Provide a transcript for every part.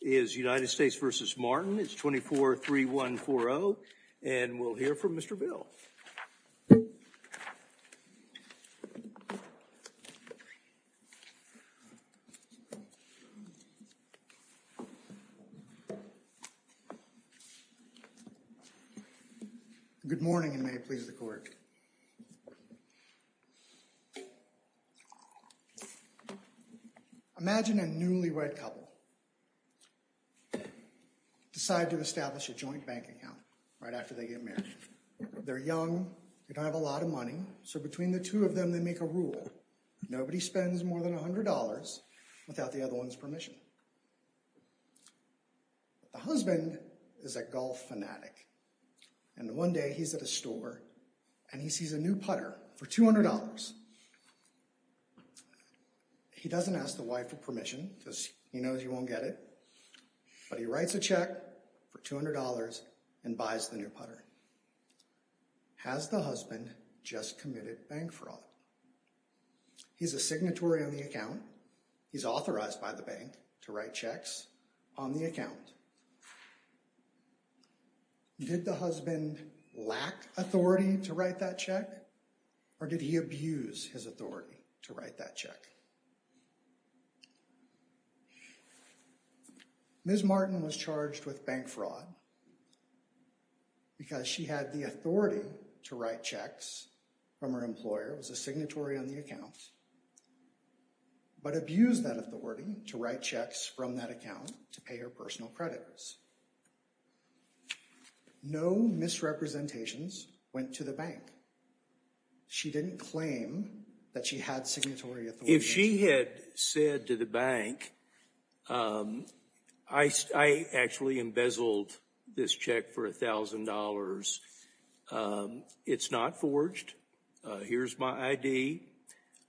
It's 243140 and we'll hear from Mr. Bill. Good morning and may it please the clerk. Imagine a newlywed couple decide to establish a joint bank account right after they get married. They're young, they don't have a lot of money, so between the two of them they make a rule. Nobody spends more than $100 without the other one's permission. The husband is a golf fanatic and one day he's at a store and he sees a new putter for $200. He doesn't ask the wife for permission because he knows you won't get it, but he writes a check for $200 and buys the new putter. Has the husband just committed bank fraud? He's a signatory of the account, he's authorized by the bank to write checks on the account. Did the husband lack authority to write that check or did he abuse his authority to write that check? Ms. Martin was charged with bank fraud because she had the authority to write checks from her employer. It was a signatory on the account, but abused that authority to write checks from that account to pay her personal creditors. No misrepresentations went to the bank. She didn't claim that she had signatory authority. If she had said to the bank, I actually embezzled this check for $1,000. It's not forged. Here's my ID.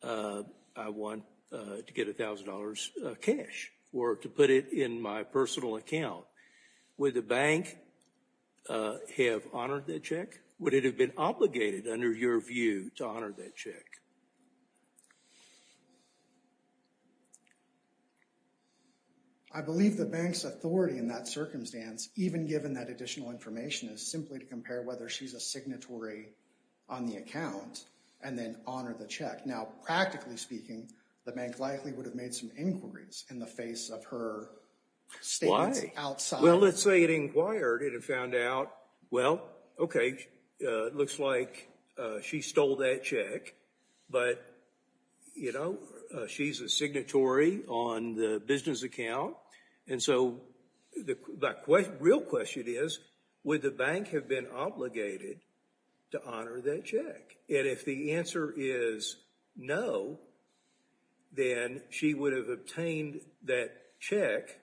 I want to get $1,000 cash or to put it in my personal account. Would the bank have honored that check? Would it have been obligated under your view to honor that check? I believe the bank's authority in that circumstance, even given that additional information, is simply to compare whether she's a signatory on the account and then honor the check. Now, practically speaking, the bank likely would have made some inquiries in the face of her statements outside. Well, let's say it inquired and it found out, well, okay, it looks like she stole that check. But, you know, she's a signatory on the business account. And so the real question is, would the bank have been obligated to honor that check? And if the answer is no, then she would have obtained that check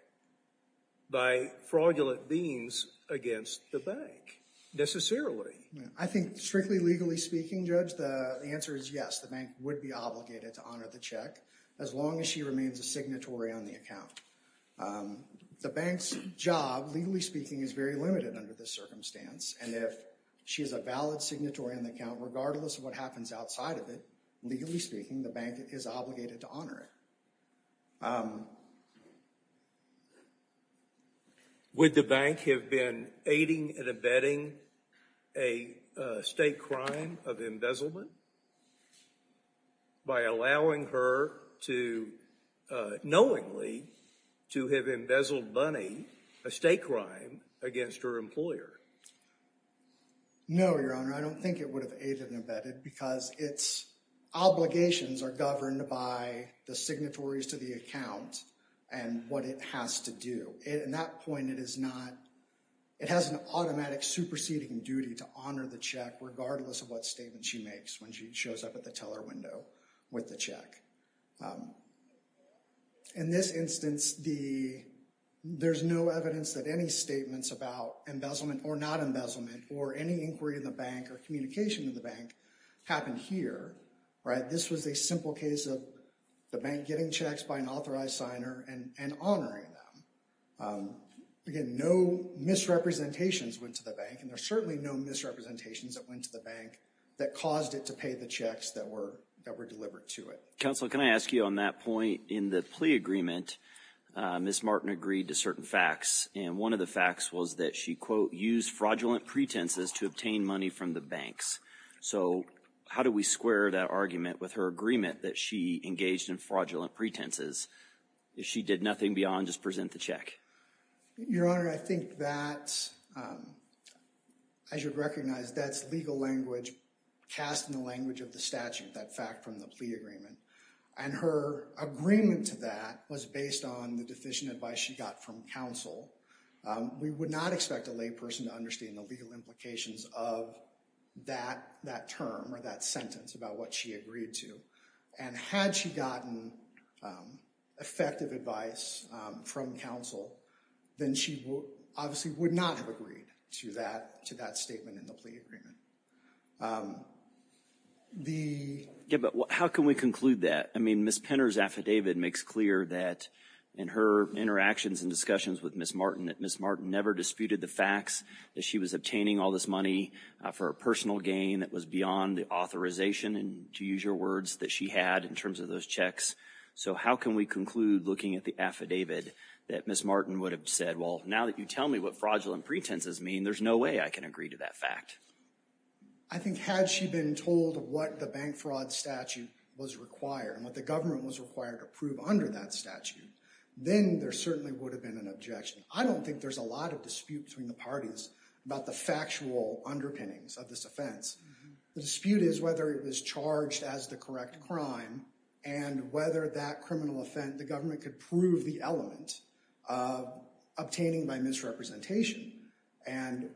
by fraudulent means against the bank, necessarily. I think, strictly legally speaking, Judge, the answer is yes. The bank would be obligated to honor the check as long as she remains a signatory on the account. The bank's job, legally speaking, is very limited under this circumstance. And if she is a valid signatory on the account, regardless of what happens outside of it, legally speaking, the bank is obligated to honor it. Would the bank have been aiding and abetting a state crime of embezzlement by allowing her to knowingly to have embezzled money, a state crime, against her employer? No, Your Honor, I don't think it would have aided and abetted because its obligations are governed by the signatories to the account and what it has to do. So in that point, it has an automatic superseding duty to honor the check, regardless of what statement she makes when she shows up at the teller window with the check. In this instance, there's no evidence that any statements about embezzlement or not embezzlement or any inquiry in the bank or communication to the bank happened here. This was a simple case of the bank getting checks by an authorized signer and honoring them. Again, no misrepresentations went to the bank, and there are certainly no misrepresentations that went to the bank that caused it to pay the checks that were delivered to it. Counsel, can I ask you on that point, in the plea agreement, Ms. Martin agreed to certain facts, and one of the facts was that she, quote, used fraudulent pretenses to obtain money from the banks. So how do we square that argument with her agreement that she engaged in fraudulent pretenses? She did nothing beyond just present the check. Your Honor, I think that, as you'd recognize, that's legal language cast in the language of the statute, that fact from the plea agreement. And her agreement to that was based on the deficient advice she got from counsel. We would not expect a lay person to understand the legal implications of that term or that sentence about what she agreed to. And had she gotten effective advice from counsel, then she obviously would not have agreed to that statement in the plea agreement. Yeah, but how can we conclude that? I mean, Ms. Penner's affidavit makes clear that, in her interactions and discussions with Ms. Martin, that Ms. Martin never disputed the facts, that she was obtaining all this money for a personal gain that was beyond the authorization, to use your words, that she had in terms of those checks. So how can we conclude, looking at the affidavit, that Ms. Martin would have said, well, now that you tell me what fraudulent pretenses mean, there's no way I can agree to that fact? I think had she been told what the bank fraud statute was required and what the government was required to prove under that statute, then there certainly would have been an objection. I don't think there's a lot of dispute between the parties about the factual underpinnings of this offense. The dispute is whether it was charged as the correct crime and whether that criminal offense the government could prove the element of obtaining by misrepresentation. And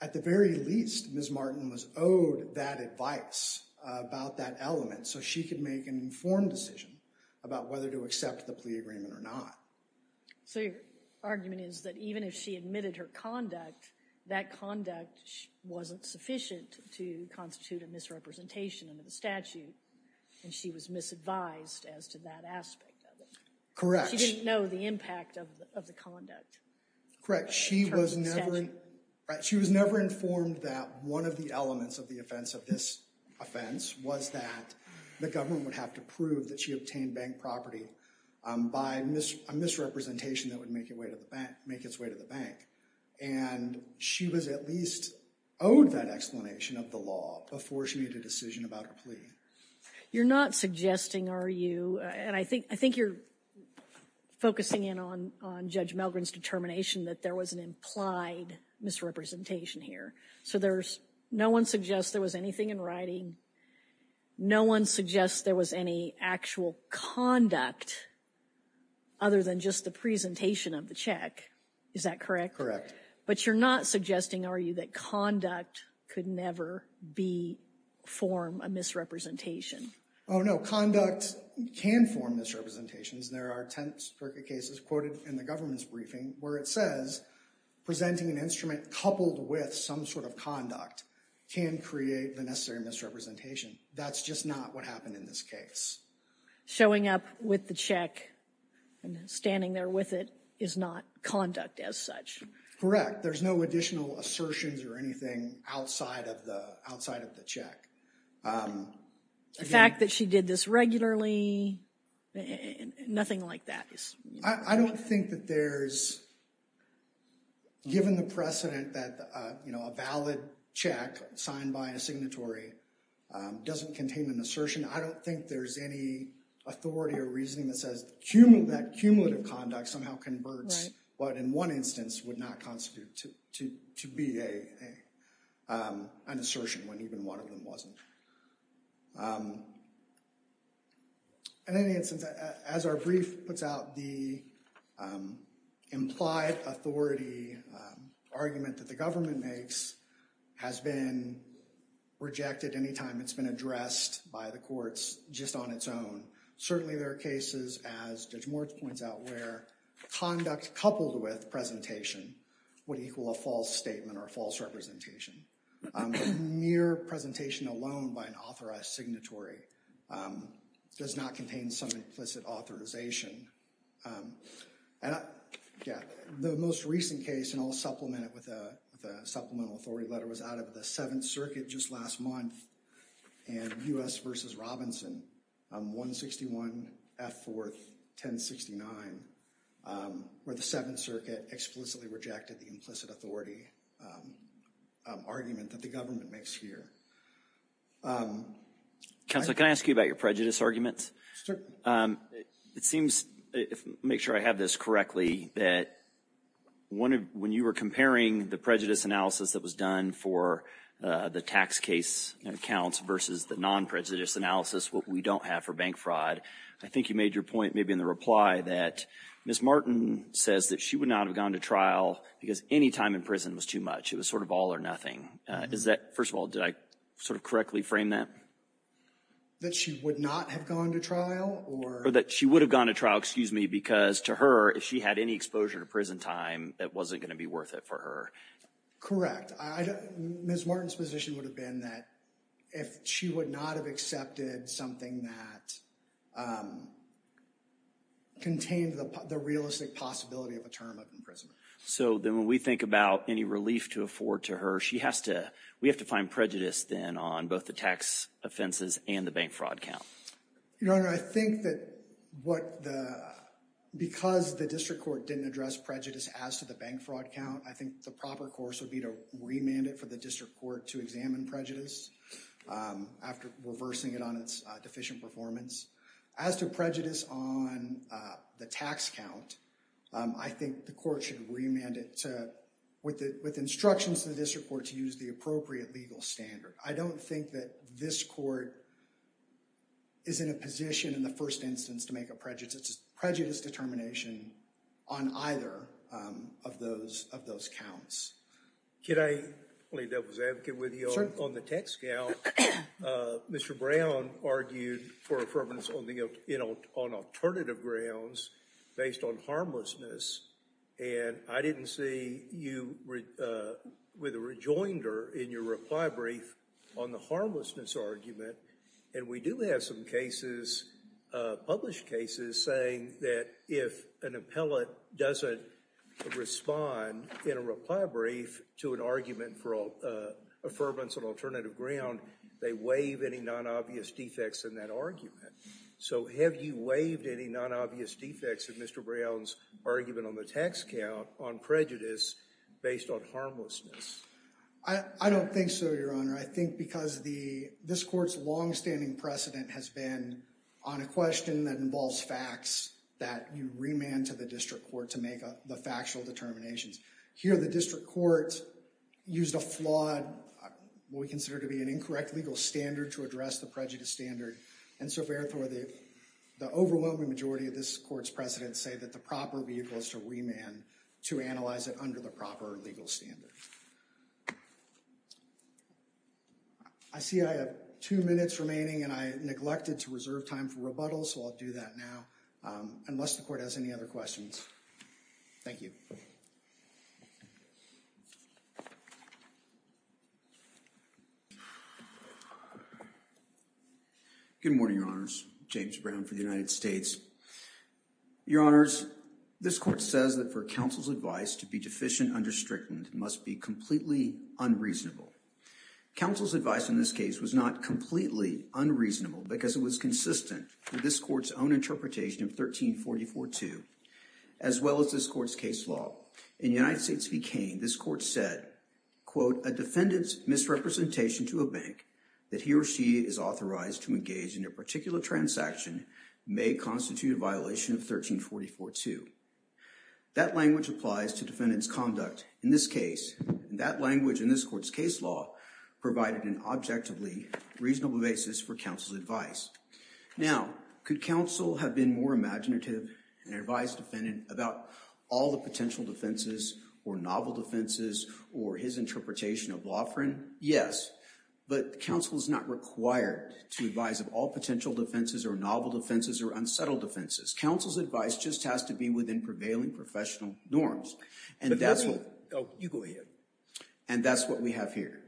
at the very least, Ms. Martin was owed that advice about that element so she could make an informed decision about whether to accept the plea agreement or not. So your argument is that even if she admitted her conduct, that conduct wasn't sufficient to constitute a misrepresentation under the statute and she was misadvised as to that aspect of it. Correct. She didn't know the impact of the conduct. Correct. She was never informed that one of the elements of the offense of this offense was that the government would have to prove that she obtained bank property by a misrepresentation that would make its way to the bank. And she was at least owed that explanation of the law before she made a decision about her plea. You're not suggesting, are you? And I think you're focusing in on Judge Melgren's determination that there was an implied misrepresentation here. So there's no one suggests there was anything in writing. No one suggests there was any actual conduct other than just the presentation of the check. Is that correct? But you're not suggesting, are you, that conduct could never be form a misrepresentation? Oh, no. Conduct can form misrepresentations. There are 10 specific cases quoted in the government's briefing where it says presenting an instrument coupled with some sort of conduct can create the necessary misrepresentation. That's just not what happened in this case. Showing up with the check and standing there with it is not conduct as such. Correct. There's no additional assertions or anything outside of the check. The fact that she did this regularly, nothing like that. I don't think that there's, given the precedent that, you know, a valid check signed by a signatory doesn't contain an assertion, I don't think there's any authority or reasoning that says that cumulative conduct somehow converts what in one instance would not constitute to be an assertion when even one of them wasn't. In any instance, as our brief puts out, the implied authority argument that the government makes has been rejected any time it's been addressed by the courts just on its own. Certainly there are cases, as Judge Moritz points out, where conduct coupled with presentation would equal a false statement or a false representation. A mere presentation alone by an authorized signatory does not contain some implicit authorization. The most recent case, and I'll supplement it with a supplemental authority letter, was out of the Seventh Circuit just last month, and U.S. v. Robinson, 161 F. 4th, 1069, where the Seventh Circuit explicitly rejected the implicit authority argument that the government makes here. Counsel, can I ask you about your prejudice arguments? Certainly. It seems, if I make sure I have this correctly, that when you were comparing the prejudice analysis that was done for the tax case accounts versus the non-prejudice analysis, what we don't have for bank fraud, I think you made your point maybe in the reply that Ms. Martin says that she would not have gone to trial because any time in prison was too much. It was sort of all or nothing. First of all, did I sort of correctly frame that? That she would not have gone to trial? Or that she would have gone to trial, excuse me, because to her, if she had any exposure to prison time, it wasn't going to be worth it for her. Correct. Ms. Martin's position would have been that if she would not have accepted something that contained the realistic possibility of a term of imprisonment. So then when we think about any relief to afford to her, we have to find prejudice then on both the tax offenses and the bank fraud count. Your Honor, I think that because the district court didn't address prejudice as to the bank fraud count, I think the proper course would be to remand it for the district court to examine prejudice after reversing it on its deficient performance. As to prejudice on the tax count, I think the court should remand it with instructions to the district court to use the appropriate legal standard. I don't think that this court is in a position in the first instance to make a prejudice determination on either of those counts. Can I double-advocate with you on the tax count? Mr. Brown argued for affirmance on alternative grounds based on harmlessness, and I didn't see you with a rejoinder in your reply brief on the harmlessness argument. And we do have some cases, published cases, saying that if an appellate doesn't respond in a reply brief to an argument for affirmance on alternative ground, they waive any non-obvious defects in that argument. So have you waived any non-obvious defects in Mr. Brown's argument on the tax count on prejudice based on harmlessness? I don't think so, Your Honor. I think because this court's long-standing precedent has been on a question that involves facts that you remand to the district court to make the factual determinations. Here, the district court used a flawed, what we consider to be an incorrect legal standard to address the prejudice standard, and so therefore the overwhelming majority of this court's precedents say that the proper vehicle is to remand to analyze it under the proper legal standard. I see I have two minutes remaining and I neglected to reserve time for rebuttals, so I'll do that now, unless the court has any other questions. Thank you. Good morning, Your Honors. James Brown for the United States. Your Honors, this court says that for counsel's advice to be deficient under stricken must be completely unreasonable. Counsel's advice in this case was not completely unreasonable because it was consistent with this court's own interpretation of 1344-2 as well as this court's case law. In United States v. Kane, this court said, quote, a defendant's misrepresentation to a bank that he or she is authorized to engage in a particular transaction may constitute a violation of 1344-2. That language applies to defendant's conduct in this case, and that language in this court's case law provided an objectively reasonable basis for counsel's advice. Now, could counsel have been more imaginative and advised a defendant about all the potential defenses or novel defenses or his interpretation of law for him? Yes, but counsel is not required to advise of all potential defenses or novel defenses or unsettled defenses. Counsel's advice just has to be within prevailing professional norms, and that's what we have here.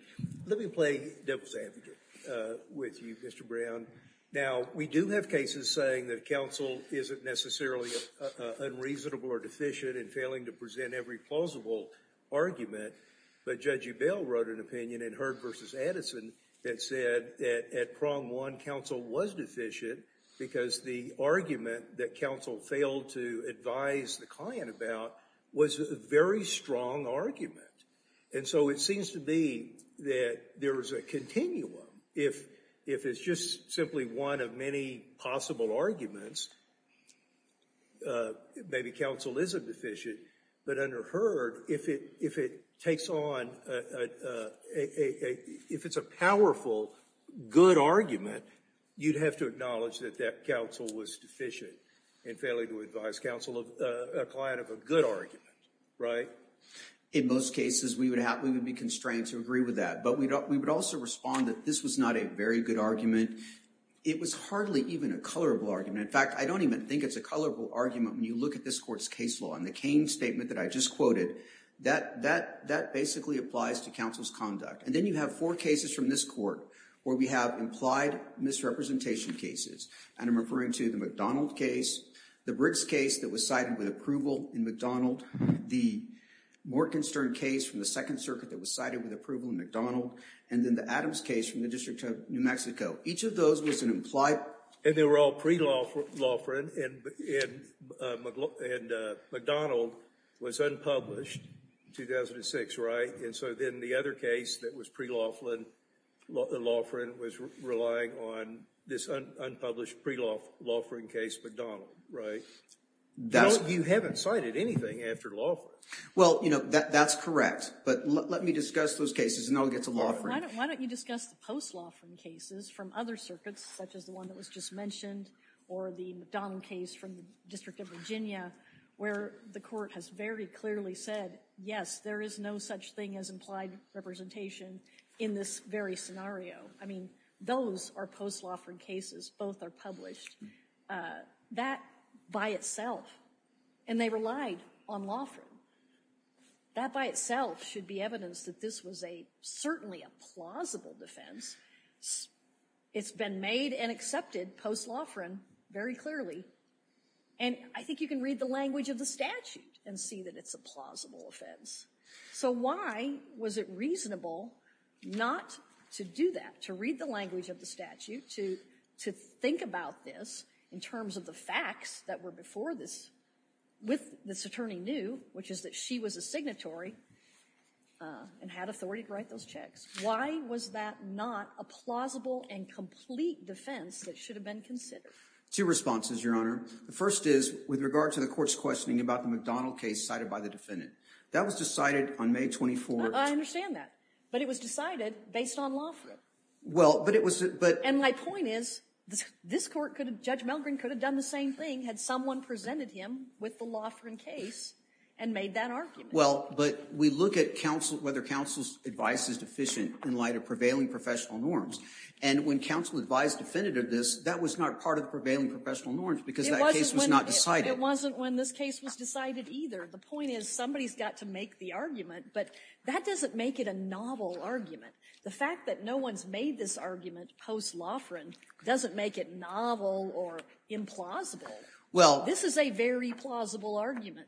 Let me play devil's advocate with you, Mr. Brown. Now, we do have cases saying that counsel isn't necessarily unreasonable or deficient in failing to present every plausible argument, but Judge Ebell wrote an opinion in Heard v. Addison that said that at prong one, counsel was deficient because the argument that counsel failed to advise the client about was a very strong argument. And so it seems to be that there is a continuum. If it's just simply one of many possible arguments, maybe counsel isn't deficient, but under Heard, if it takes on... if it's a powerful, good argument, you'd have to acknowledge that that counsel was deficient in failing to advise counsel of a client of a good argument, right? In most cases, we would be constrained to agree with that, but we would also respond that this was not a very good argument. It was hardly even a colorable argument. In fact, I don't even think it's a colorable argument when you look at this court's case law. In the Cain statement that I just quoted, that basically applies to counsel's conduct. And then you have four cases from this court where we have implied misrepresentation cases, and I'm referring to the McDonald case, the Briggs case that was cited with approval in McDonald, the Morgenstern case from the Second Circuit that was cited with approval in McDonald, and then the Adams case from the District of New Mexico. Each of those was an implied... And they were all pre-Loughran, and McDonald was unpublished in 2006, right? And so then the other case that was pre-Loughran was relying on this unpublished pre-Loughran case, McDonald, right? You haven't cited anything after Loughran. Well, you know, that's correct. But let me discuss those cases, and then I'll get to Loughran. Why don't you discuss the post-Loughran cases from other circuits, such as the one that was just mentioned, or the McDonald case from the District of Virginia, where the court has very clearly said, yes, there is no such thing as implied representation in this very scenario. I mean, those are post-Loughran cases. Both are published. That by itself... And they relied on Loughran. That by itself should be evidence that this was certainly a plausible defense. It's been made and accepted post-Loughran very clearly. And I think you can read the language of the statute and see that it's a plausible offense. So why was it reasonable not to do that, to read the language of the statute, to think about this in terms of the facts that were before this, with this attorney knew, which is that she was a signatory and had authority to write those checks? Why was that not a plausible and complete defense that should have been considered? Two responses, Your Honor. The first is with regard to the court's questioning about the McDonald case cited by the defendant. That was decided on May 24. I understand that. But it was decided based on Loughran. Well, but it was... And my point is, this court could have, Judge Melgren could have done the same thing had someone presented him with the Loughran case and made that argument. Well, but we look at whether counsel's advice is deficient in light of prevailing professional norms. And when counsel advised the defendant of this, that was not part of the prevailing professional norms because that case was not decided. It wasn't when this case was decided either. The point is, somebody's got to make the argument, but that doesn't make it a novel argument. The fact that no one's made this argument post-Loughran doesn't make it novel or implausible. Well... This is a very plausible argument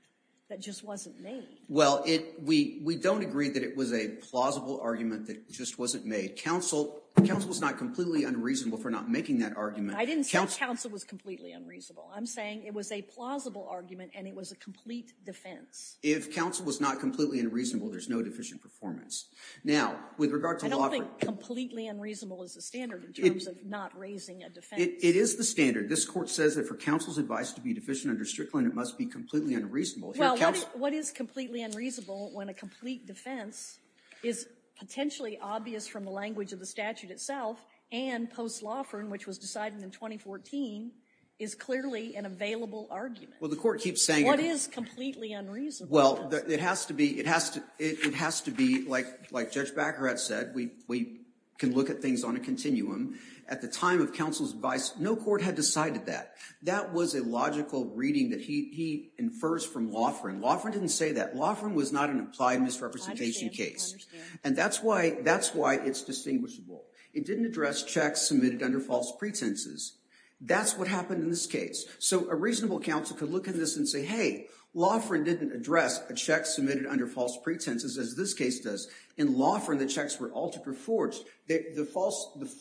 that just wasn't made. Well, we don't agree that it was a plausible argument that just wasn't made. Counsel was not completely unreasonable for not making that argument. I didn't say counsel was completely unreasonable. I'm saying it was a plausible argument and it was a complete defense. If counsel was not completely unreasonable, there's no deficient performance. Now, with regard to Loughran... I don't think completely unreasonable is the standard in terms of not raising a defense. It is the standard. This Court says that for counsel's advice to be deficient under Strickland, it must be completely unreasonable. Well, what is completely unreasonable when a complete defense is potentially obvious from the language of the statute itself and post-Loughran, which was decided in 2014, is clearly an available argument? Well, the Court keeps saying... What is completely unreasonable? Well, it has to be, like Judge Baccarat said, we can look at things on a continuum. At the time of counsel's advice, no court had decided that. That was a logical reading that he infers from Loughran. Loughran didn't say that. Loughran was not an applied misrepresentation case. And that's why it's distinguishable. It didn't address checks submitted under false pretenses. That's what happened in this case. So a reasonable counsel could look at this and say, hey, Loughran didn't address a check submitted under false pretenses, as this case does. In Loughran, the checks were altered or forged. The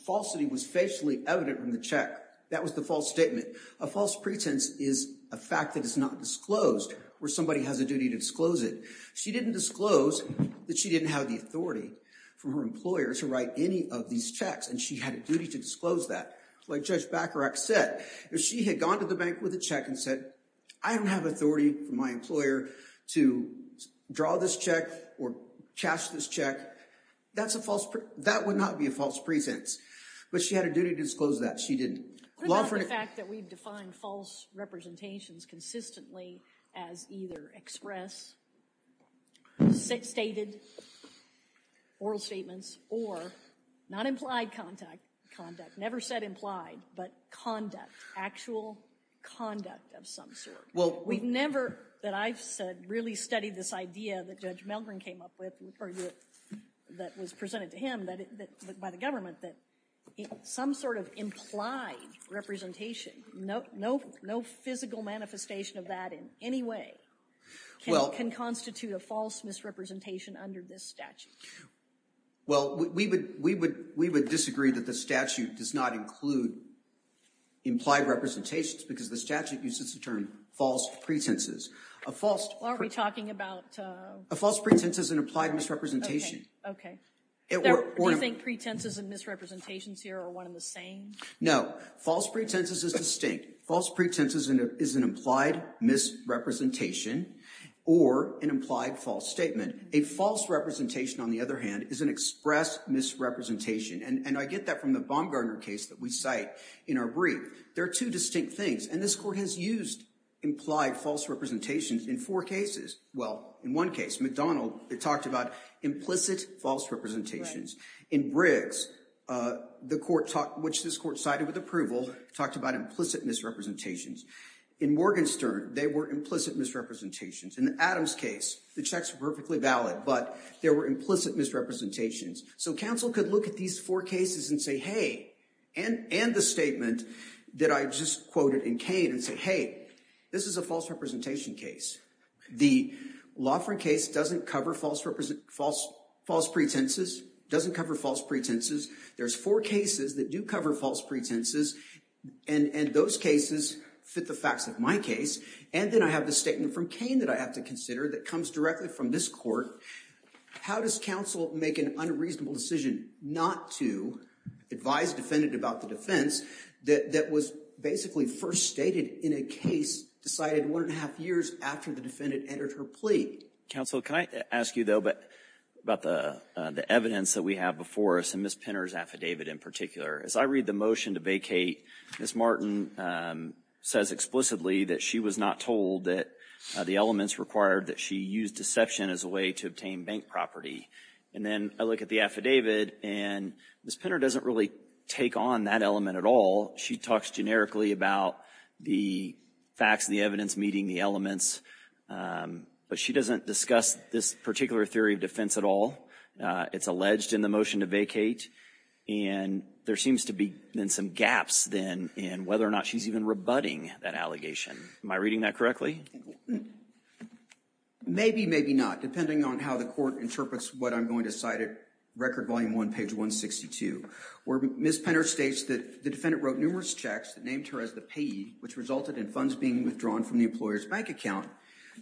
falsity was facially evident in the check. That was the false statement. A false pretense is a fact that is not disclosed or somebody has a duty to disclose it. She didn't disclose that she didn't have the authority from her employer to write any of these checks, and she had a duty to disclose that. Like Judge Baccarat said, if she had gone to the bank with a check and said, I don't have authority from my employer to draw this check or cash this check, that would not be a false pretense. But she had a duty to disclose that. She didn't. What about the fact that we've defined false representations consistently as either express, stated, oral statements, or not implied conduct, never said implied, but conduct, actual conduct of some sort? Well, we've never, that I've said, really studied this idea that Judge Melgren came up with or that was presented to him by the government that some sort of implied representation, no physical manifestation of that in any way, can constitute a false misrepresentation under this statute. Well, we would disagree that the statute does not include implied representations, because the statute uses the term false pretenses. A false pretense is an implied misrepresentation. Do you think pretenses and misrepresentations here are one and the same? No. False pretenses is distinct. False pretenses is an implied misrepresentation or an implied false statement. A false representation, on the other hand, is an expressed misrepresentation. And I get that from the Baumgartner case that we cite in our brief. There are two distinct things. And this court has used implied false representations in four cases. Well, in one case, McDonald, it talked about implicit false representations. In Briggs, which this court cited with approval, talked about implicit misrepresentations. In Morgenstern, they were implicit misrepresentations. In the Adams case, the checks were perfectly valid, but there were implicit misrepresentations. So counsel could look at these four cases and say, hey, and the statement that I just quoted in Cain, and say, hey, this is a false representation case. The Lofgren case doesn't cover false pretenses. It doesn't cover false pretenses. There's four cases that do cover false pretenses. And those cases fit the facts of my case. And then I have the statement from Cain that I have to consider that comes directly from this court. How does counsel make an unreasonable decision not to advise a defendant about the defense that was basically first stated in a case decided one and a half years after the defendant entered her plea? Counsel, can I ask you, though, about the evidence that we have before us, and Ms. Pinter's affidavit in particular? As I read the motion to vacate, Ms. Martin says explicitly that she was not told that the elements required that she use deception as a way to obtain bank property. And then I look at the affidavit, and Ms. Pinter doesn't really take on that element at all. She talks generically about the facts and the evidence meeting the elements, but she doesn't discuss this particular theory of defense at all. It's alleged in the motion to vacate, and there seems to be, then, some gaps, then, in whether or not she's even rebutting that allegation. Am I reading that correctly? Maybe, maybe not, depending on how the court interprets what I'm going to cite at Record Volume 1, page 162, where Ms. Pinter states that the defendant wrote numerous checks that named her as the payee, which resulted in funds being withdrawn from the employer's bank account.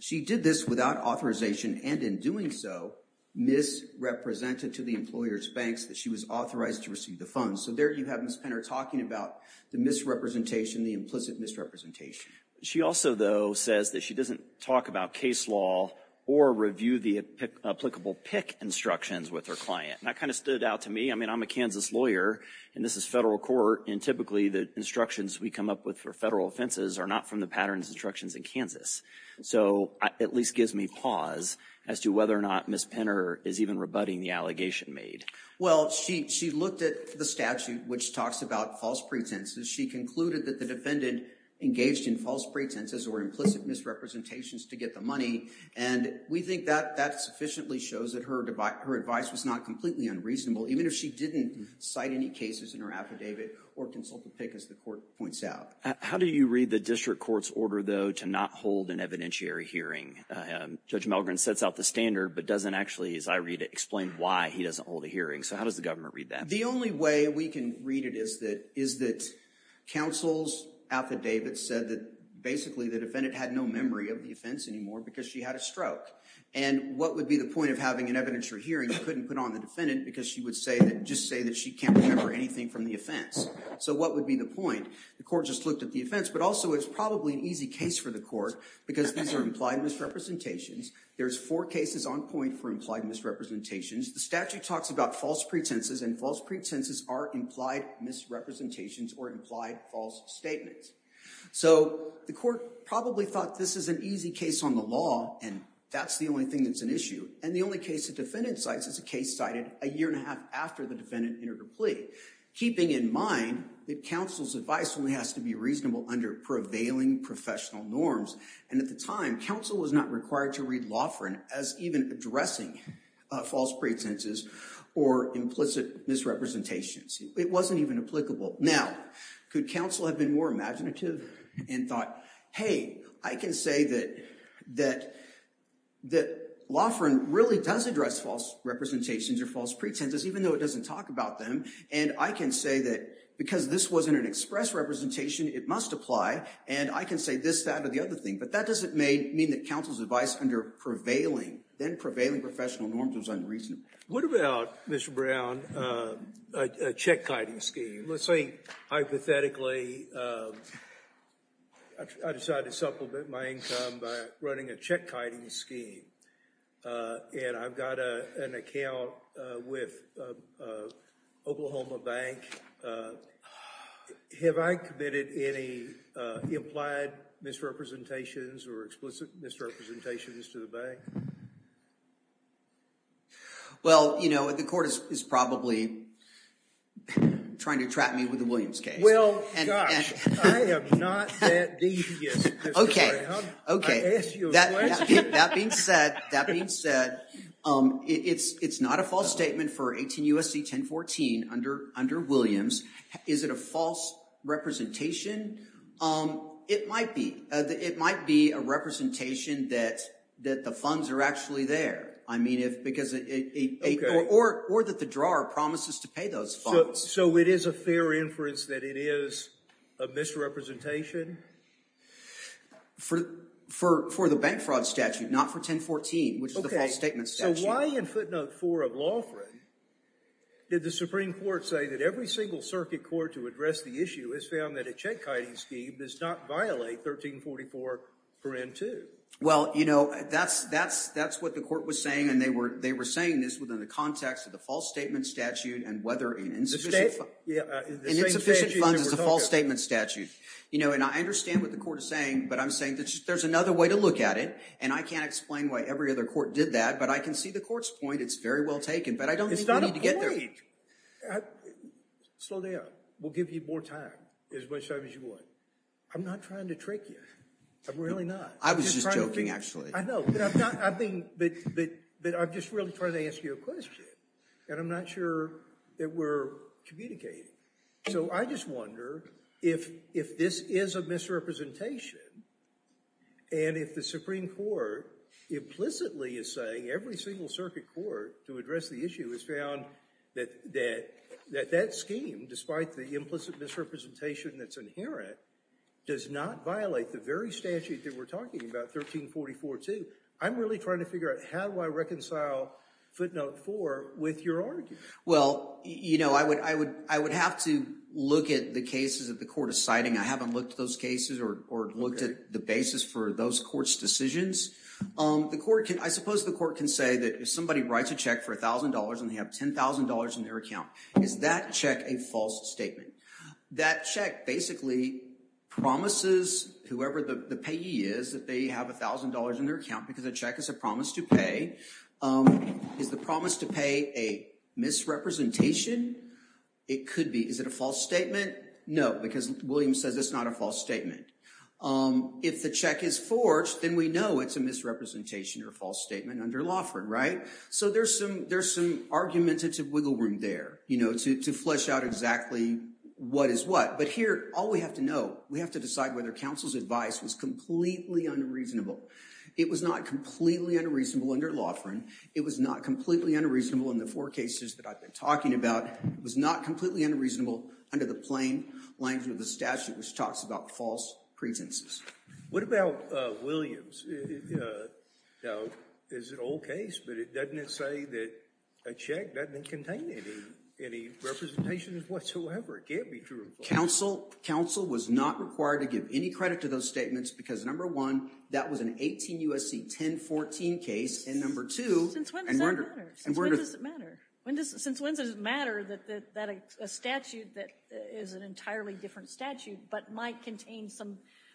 She did this without authorization, and in doing so, misrepresented to the employer's banks that she was authorized to receive the funds. So there you have Ms. Pinter talking about the misrepresentation, the implicit misrepresentation. She also, though, says that she doesn't talk about case law or review the applicable PIC instructions with her client. And that kind of stood out to me. I mean, I'm a Kansas lawyer, and this is federal court, and typically, the instructions we come up with for federal offenses are not from the patterns instructions in Kansas. So it at least gives me pause as to whether or not Ms. Pinter is even rebutting the allegation made. Well, she looked at the statute, which talks about false pretenses. She concluded that the defendant engaged in false pretenses or implicit misrepresentations to get the money. And we think that that sufficiently shows that her advice was not completely unreasonable, even if she didn't cite any cases in her affidavit or consult the PIC, as the court points out. How do you read the district court's order, though, to not hold an evidentiary hearing? Judge Melgren sets out the standard, but doesn't actually, as I read it, explain why he doesn't hold a hearing. So how does the government read that? The only way we can read it is that counsel's affidavit said that, basically, the defendant had no memory of the offense anymore because she had a stroke. And what would be the point of having an evidentiary hearing if you couldn't put on the defendant because she would just say that she can't remember anything from the offense? So what would be the point? The court just looked at the offense, but also it's probably an easy case for the court because these are implied misrepresentations. There's four cases on point for implied misrepresentations. The statute talks about false pretenses, and false pretenses are implied misrepresentations or implied false statements. So the court probably thought this is an easy case on the law, and that's the only thing that's an issue. And the only case the defendant cites is a case cited a year and a half after the defendant entered a plea, keeping in mind that counsel's advice only has to be reasonable under prevailing professional norms. And at the time, counsel was not required to read Laughrin as even addressing false pretenses or implicit misrepresentations. It wasn't even applicable. Now, could counsel have been more imaginative and thought, hey, I can say that Laughrin really does address false representations or false pretenses, even though it doesn't talk about them. And I can say that because this wasn't an express representation, it must apply. And I can say this, that, or the other thing. But that doesn't mean that counsel's advice under prevailing, then prevailing professional norms, was unreasonable. What about, Mr. Brown, a check-kiting scheme? Let's say, hypothetically, I decide to supplement my income by running a check-kiting scheme. And I've got an account with Oklahoma Bank. Have I committed any implied misrepresentations or explicit misrepresentations to the bank? Well, you know, the court is probably trying to trap me with the Williams case. Well, gosh, I am not that devious, Mr. Brown. I asked you a question. That being said, it's not a false statement for 18 U.S.C. 1014 under Williams. Is it a false representation? It might be. It might be a representation that the funds are actually there, or that the drawer promises to pay those funds. So it is a fair inference that it is a misrepresentation? For the bank fraud statute, not for 1014, which is the false statement statute. Why in footnote 4 of Lawford did the Supreme Court say that every single circuit court to address the issue has found that a check-kiting scheme does not violate 1344.2? Well, you know, that's what the court was saying. And they were saying this within the context of the false statement statute and whether an insufficient funds is a false statement statute. You know, and I understand what the court is saying. But I'm saying that there's another way to look at it. And I can't explain why every other court did that. But I can see the court's point. It's very well taken. But I don't think we need to get there. Slow down. We'll give you more time, as much time as you want. I'm not trying to trick you. I'm really not. I was just joking, actually. I know. But I'm just really trying to ask you a question. And I'm not sure that we're communicating. So I just wonder if this is a misrepresentation, and if the Supreme Court implicitly is saying every single circuit court to address the issue has found that that scheme, despite the implicit misrepresentation that's inherent, does not violate the very statute that we're talking about, 1344.2. I'm really trying to figure out, how do I reconcile footnote 4 with your argument? Well, you know, I would have to look at the cases that the court is citing. I haven't looked at those cases or looked at the basis for those courts' decisions. I suppose the court can say that if somebody writes a check for $1,000 and they have $10,000 in their account, is that check a false statement? That check basically promises whoever the payee is that they have $1,000 in their account, because a check is a promise to pay. Is the promise to pay a misrepresentation? It could be. Is it a false statement? No, because William says it's not a false statement. If the check is forged, then we know it's a misrepresentation or false statement under Laughrin, right? So there's some argumentative wiggle room there to flesh out exactly what is what. But here, all we have to know, we have to decide whether counsel's advice was completely unreasonable. It was not completely unreasonable under Laughrin. It was not completely unreasonable in the four cases that I've been talking about. It was not completely unreasonable under the plain language of the statute, which talks about false pretenses. What about Williams? It's an old case, but doesn't it say that a check doesn't contain any representation whatsoever? It can't be true. Counsel was not required to give any credit to those statements, because number one, that was an 18 USC 1014 case. And number two, and we're going to- Since when does it matter? A statute that is an entirely different statute, but might contain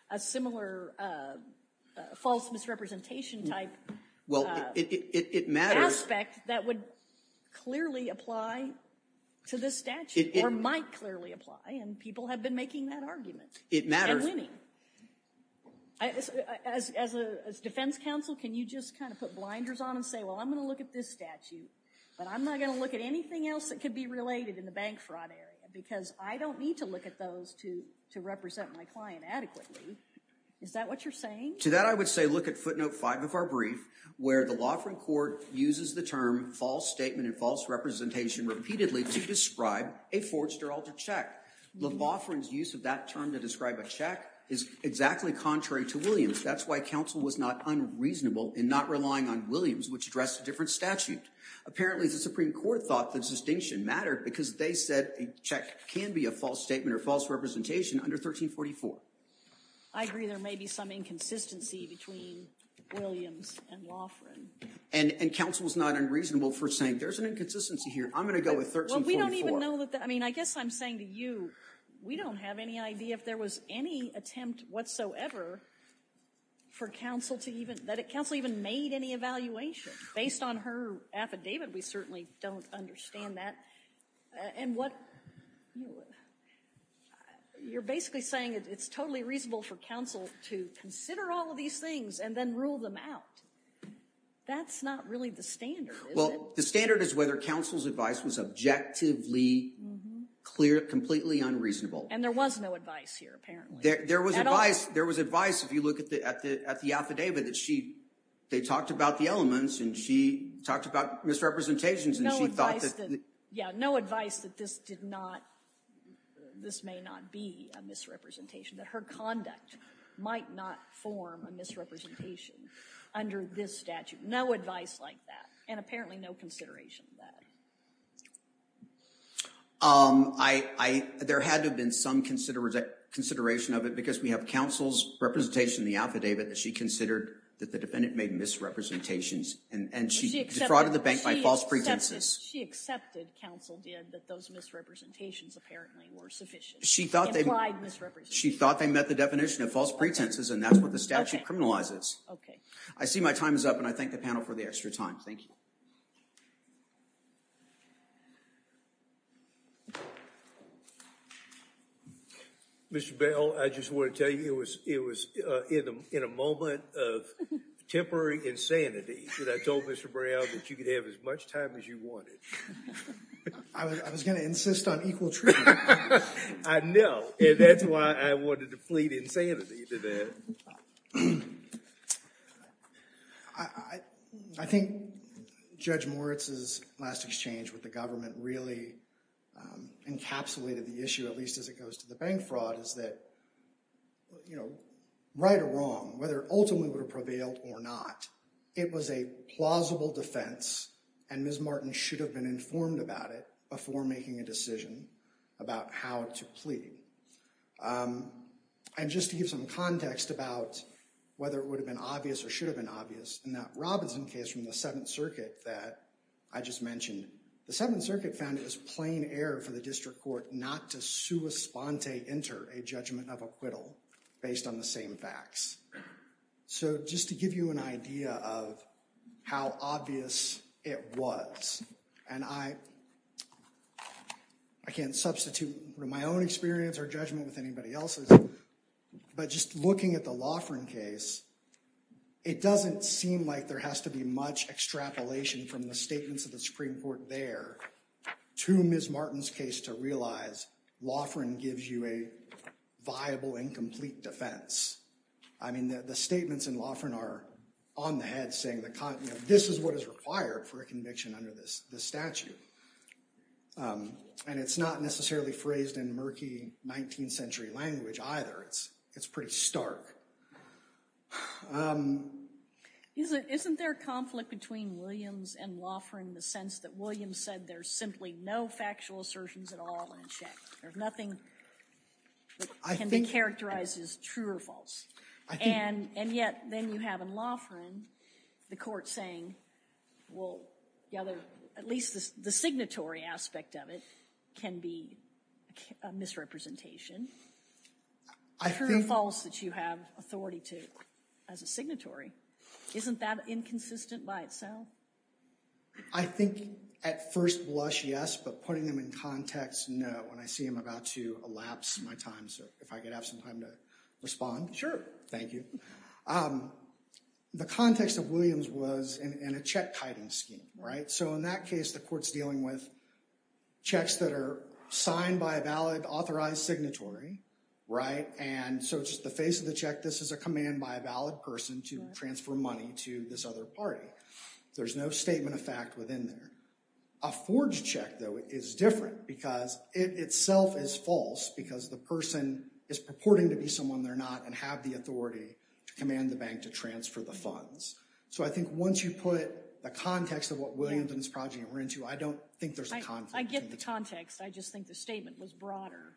a similar false misrepresentation type- Well, it matters. Aspect that would clearly apply to this statute, or might clearly apply. And people have been making that argument. It matters. And winning. As defense counsel, can you just kind of put blinders on and say, well, I'm going to look at this statute, but I'm not going to look at anything else that could be related in the bank fraud area. Because I don't need to look at those to represent my client adequately. Is that what you're saying? To that, I would say look at footnote five of our brief, where the law firm court uses the term false statement and false representation repeatedly to describe a forged or altered check. The law firm's use of that term to describe a check is exactly contrary to Williams. That's why counsel was not unreasonable in not relying on Williams, which addressed a different statute. Apparently, the Supreme Court thought the distinction mattered because they said a check can be a false statement or false representation under 1344. I agree there may be some inconsistency between Williams and law firm. And counsel was not unreasonable for saying there's an inconsistency here. I'm going to go with 1344. Well, we don't even know that. I mean, I guess I'm saying to you, we don't have any idea if there was any attempt whatsoever for counsel to even, that counsel even made any evaluation based on her affidavit. We certainly don't understand that. You're basically saying it's totally reasonable for counsel to consider all of these things and then rule them out. That's not really the standard, is it? Well, the standard is whether counsel's advice was objectively completely unreasonable. And there was no advice here, apparently. There was advice. There was advice, if you look at the affidavit, that they talked about the elements and she talked about misrepresentations. And she thought that the- Yeah, no advice that this may not be a misrepresentation, that her conduct might not form a misrepresentation under this statute. No advice like that. And apparently, no consideration of that. There had to have been some consideration of it because we have counsel's representation in the affidavit that she considered that the defendant made misrepresentations and she defrauded the bank by false pretenses. She accepted, counsel did, that those misrepresentations apparently were sufficient. She thought they- Implied misrepresentations. She thought they met the definition of false pretenses and that's what the statute criminalizes. I see my time is up and I thank the panel for the extra time. Thank you. Mr. Bell, I just want to tell you, it was in a moment of temporary insanity that I told Mr. Brown that you could have as much time as you wanted. I was going to insist on equal treatment. I know. And that's why I wanted to plead insanity to that. I think Judge Moritz's last exchange with the government really encapsulated the issue, at least as it goes to the bank fraud, is that right or wrong, whether it ultimately would have prevailed or not, it was a plausible defense and Ms. Martin should have been informed about it before making a decision about how to plead. And just to give some context about whether it would have been obvious or should have been obvious, in that Robinson case from the Seventh Circuit that I just mentioned, the Seventh Circuit found it was plain error for the district court not to sua sponte enter a judgment of acquittal based on the same facts. So just to give you an idea of how obvious it was and I can't substitute my own experience or judgment with anybody else's, but just looking at the Loughran case, it doesn't seem like there has to be much extrapolation from the statements of the Supreme Court there to Ms. Martin's case to realize Loughran gives you a viable and complete defense. I mean, the statements in Loughran are on the head saying this is what is required for a conviction under this statute. And it's not necessarily phrased in murky 19th century language either. It's pretty stark. Isn't there conflict between Williams and Loughran in the sense that Williams said there's simply no factual assertions at all in a check? There's nothing that can be characterized as true or false. And yet then you have in Loughran the court saying, well, at least the signatory aspect of it can be a misrepresentation. True or false that you have authority to as a signatory. Isn't that inconsistent by itself? I think at first blush, yes, but putting them in context, no. And I see I'm about to elapse my time, so if I could have some time to respond. Sure. Thank you. The context of Williams was in a check-kiting scheme. So in that case, the court's dealing with checks that are signed by a valid authorized signatory. And so just the face of the check, this is a command by a valid person to transfer money to this other party. There's no statement of fact within there. A forged check, though, is different because it itself is false because the person is purporting to be someone they're not and have the authority to command the bank to transfer the funds. So I think once you put the context of what Williams and his project were into, I don't think there's a conflict. I get the context. I just think the statement was broader,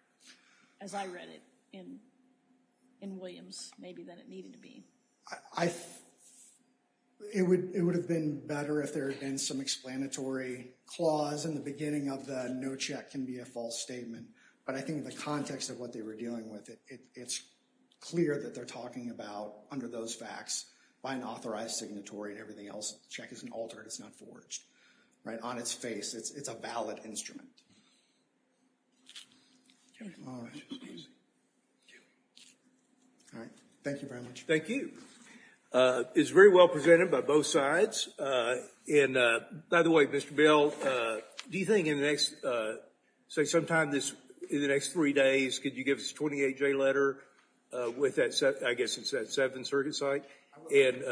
as I read it in Williams, maybe than it needed to be. It would have been better if there had been some explanatory clause in the beginning of the no check can be a false statement. But I think the context of what they were dealing with, it's clear that they're talking about, under those facts, by an authorized signatory and everything else. The check isn't altered. It's not forged on its face. It's a valid instrument. All right. Thank you very much. Thank you. It's very well presented by both sides. And by the way, Mr. Bell, do you think in the next, say, sometime in the next three days, could you give us a 28-J letter with that, I guess it's that seven-certed site? And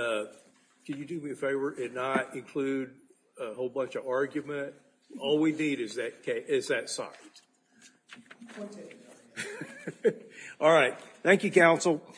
could you do me a favor and not include a whole bunch of argument? All we need is that site. All right. Thank you, counsel.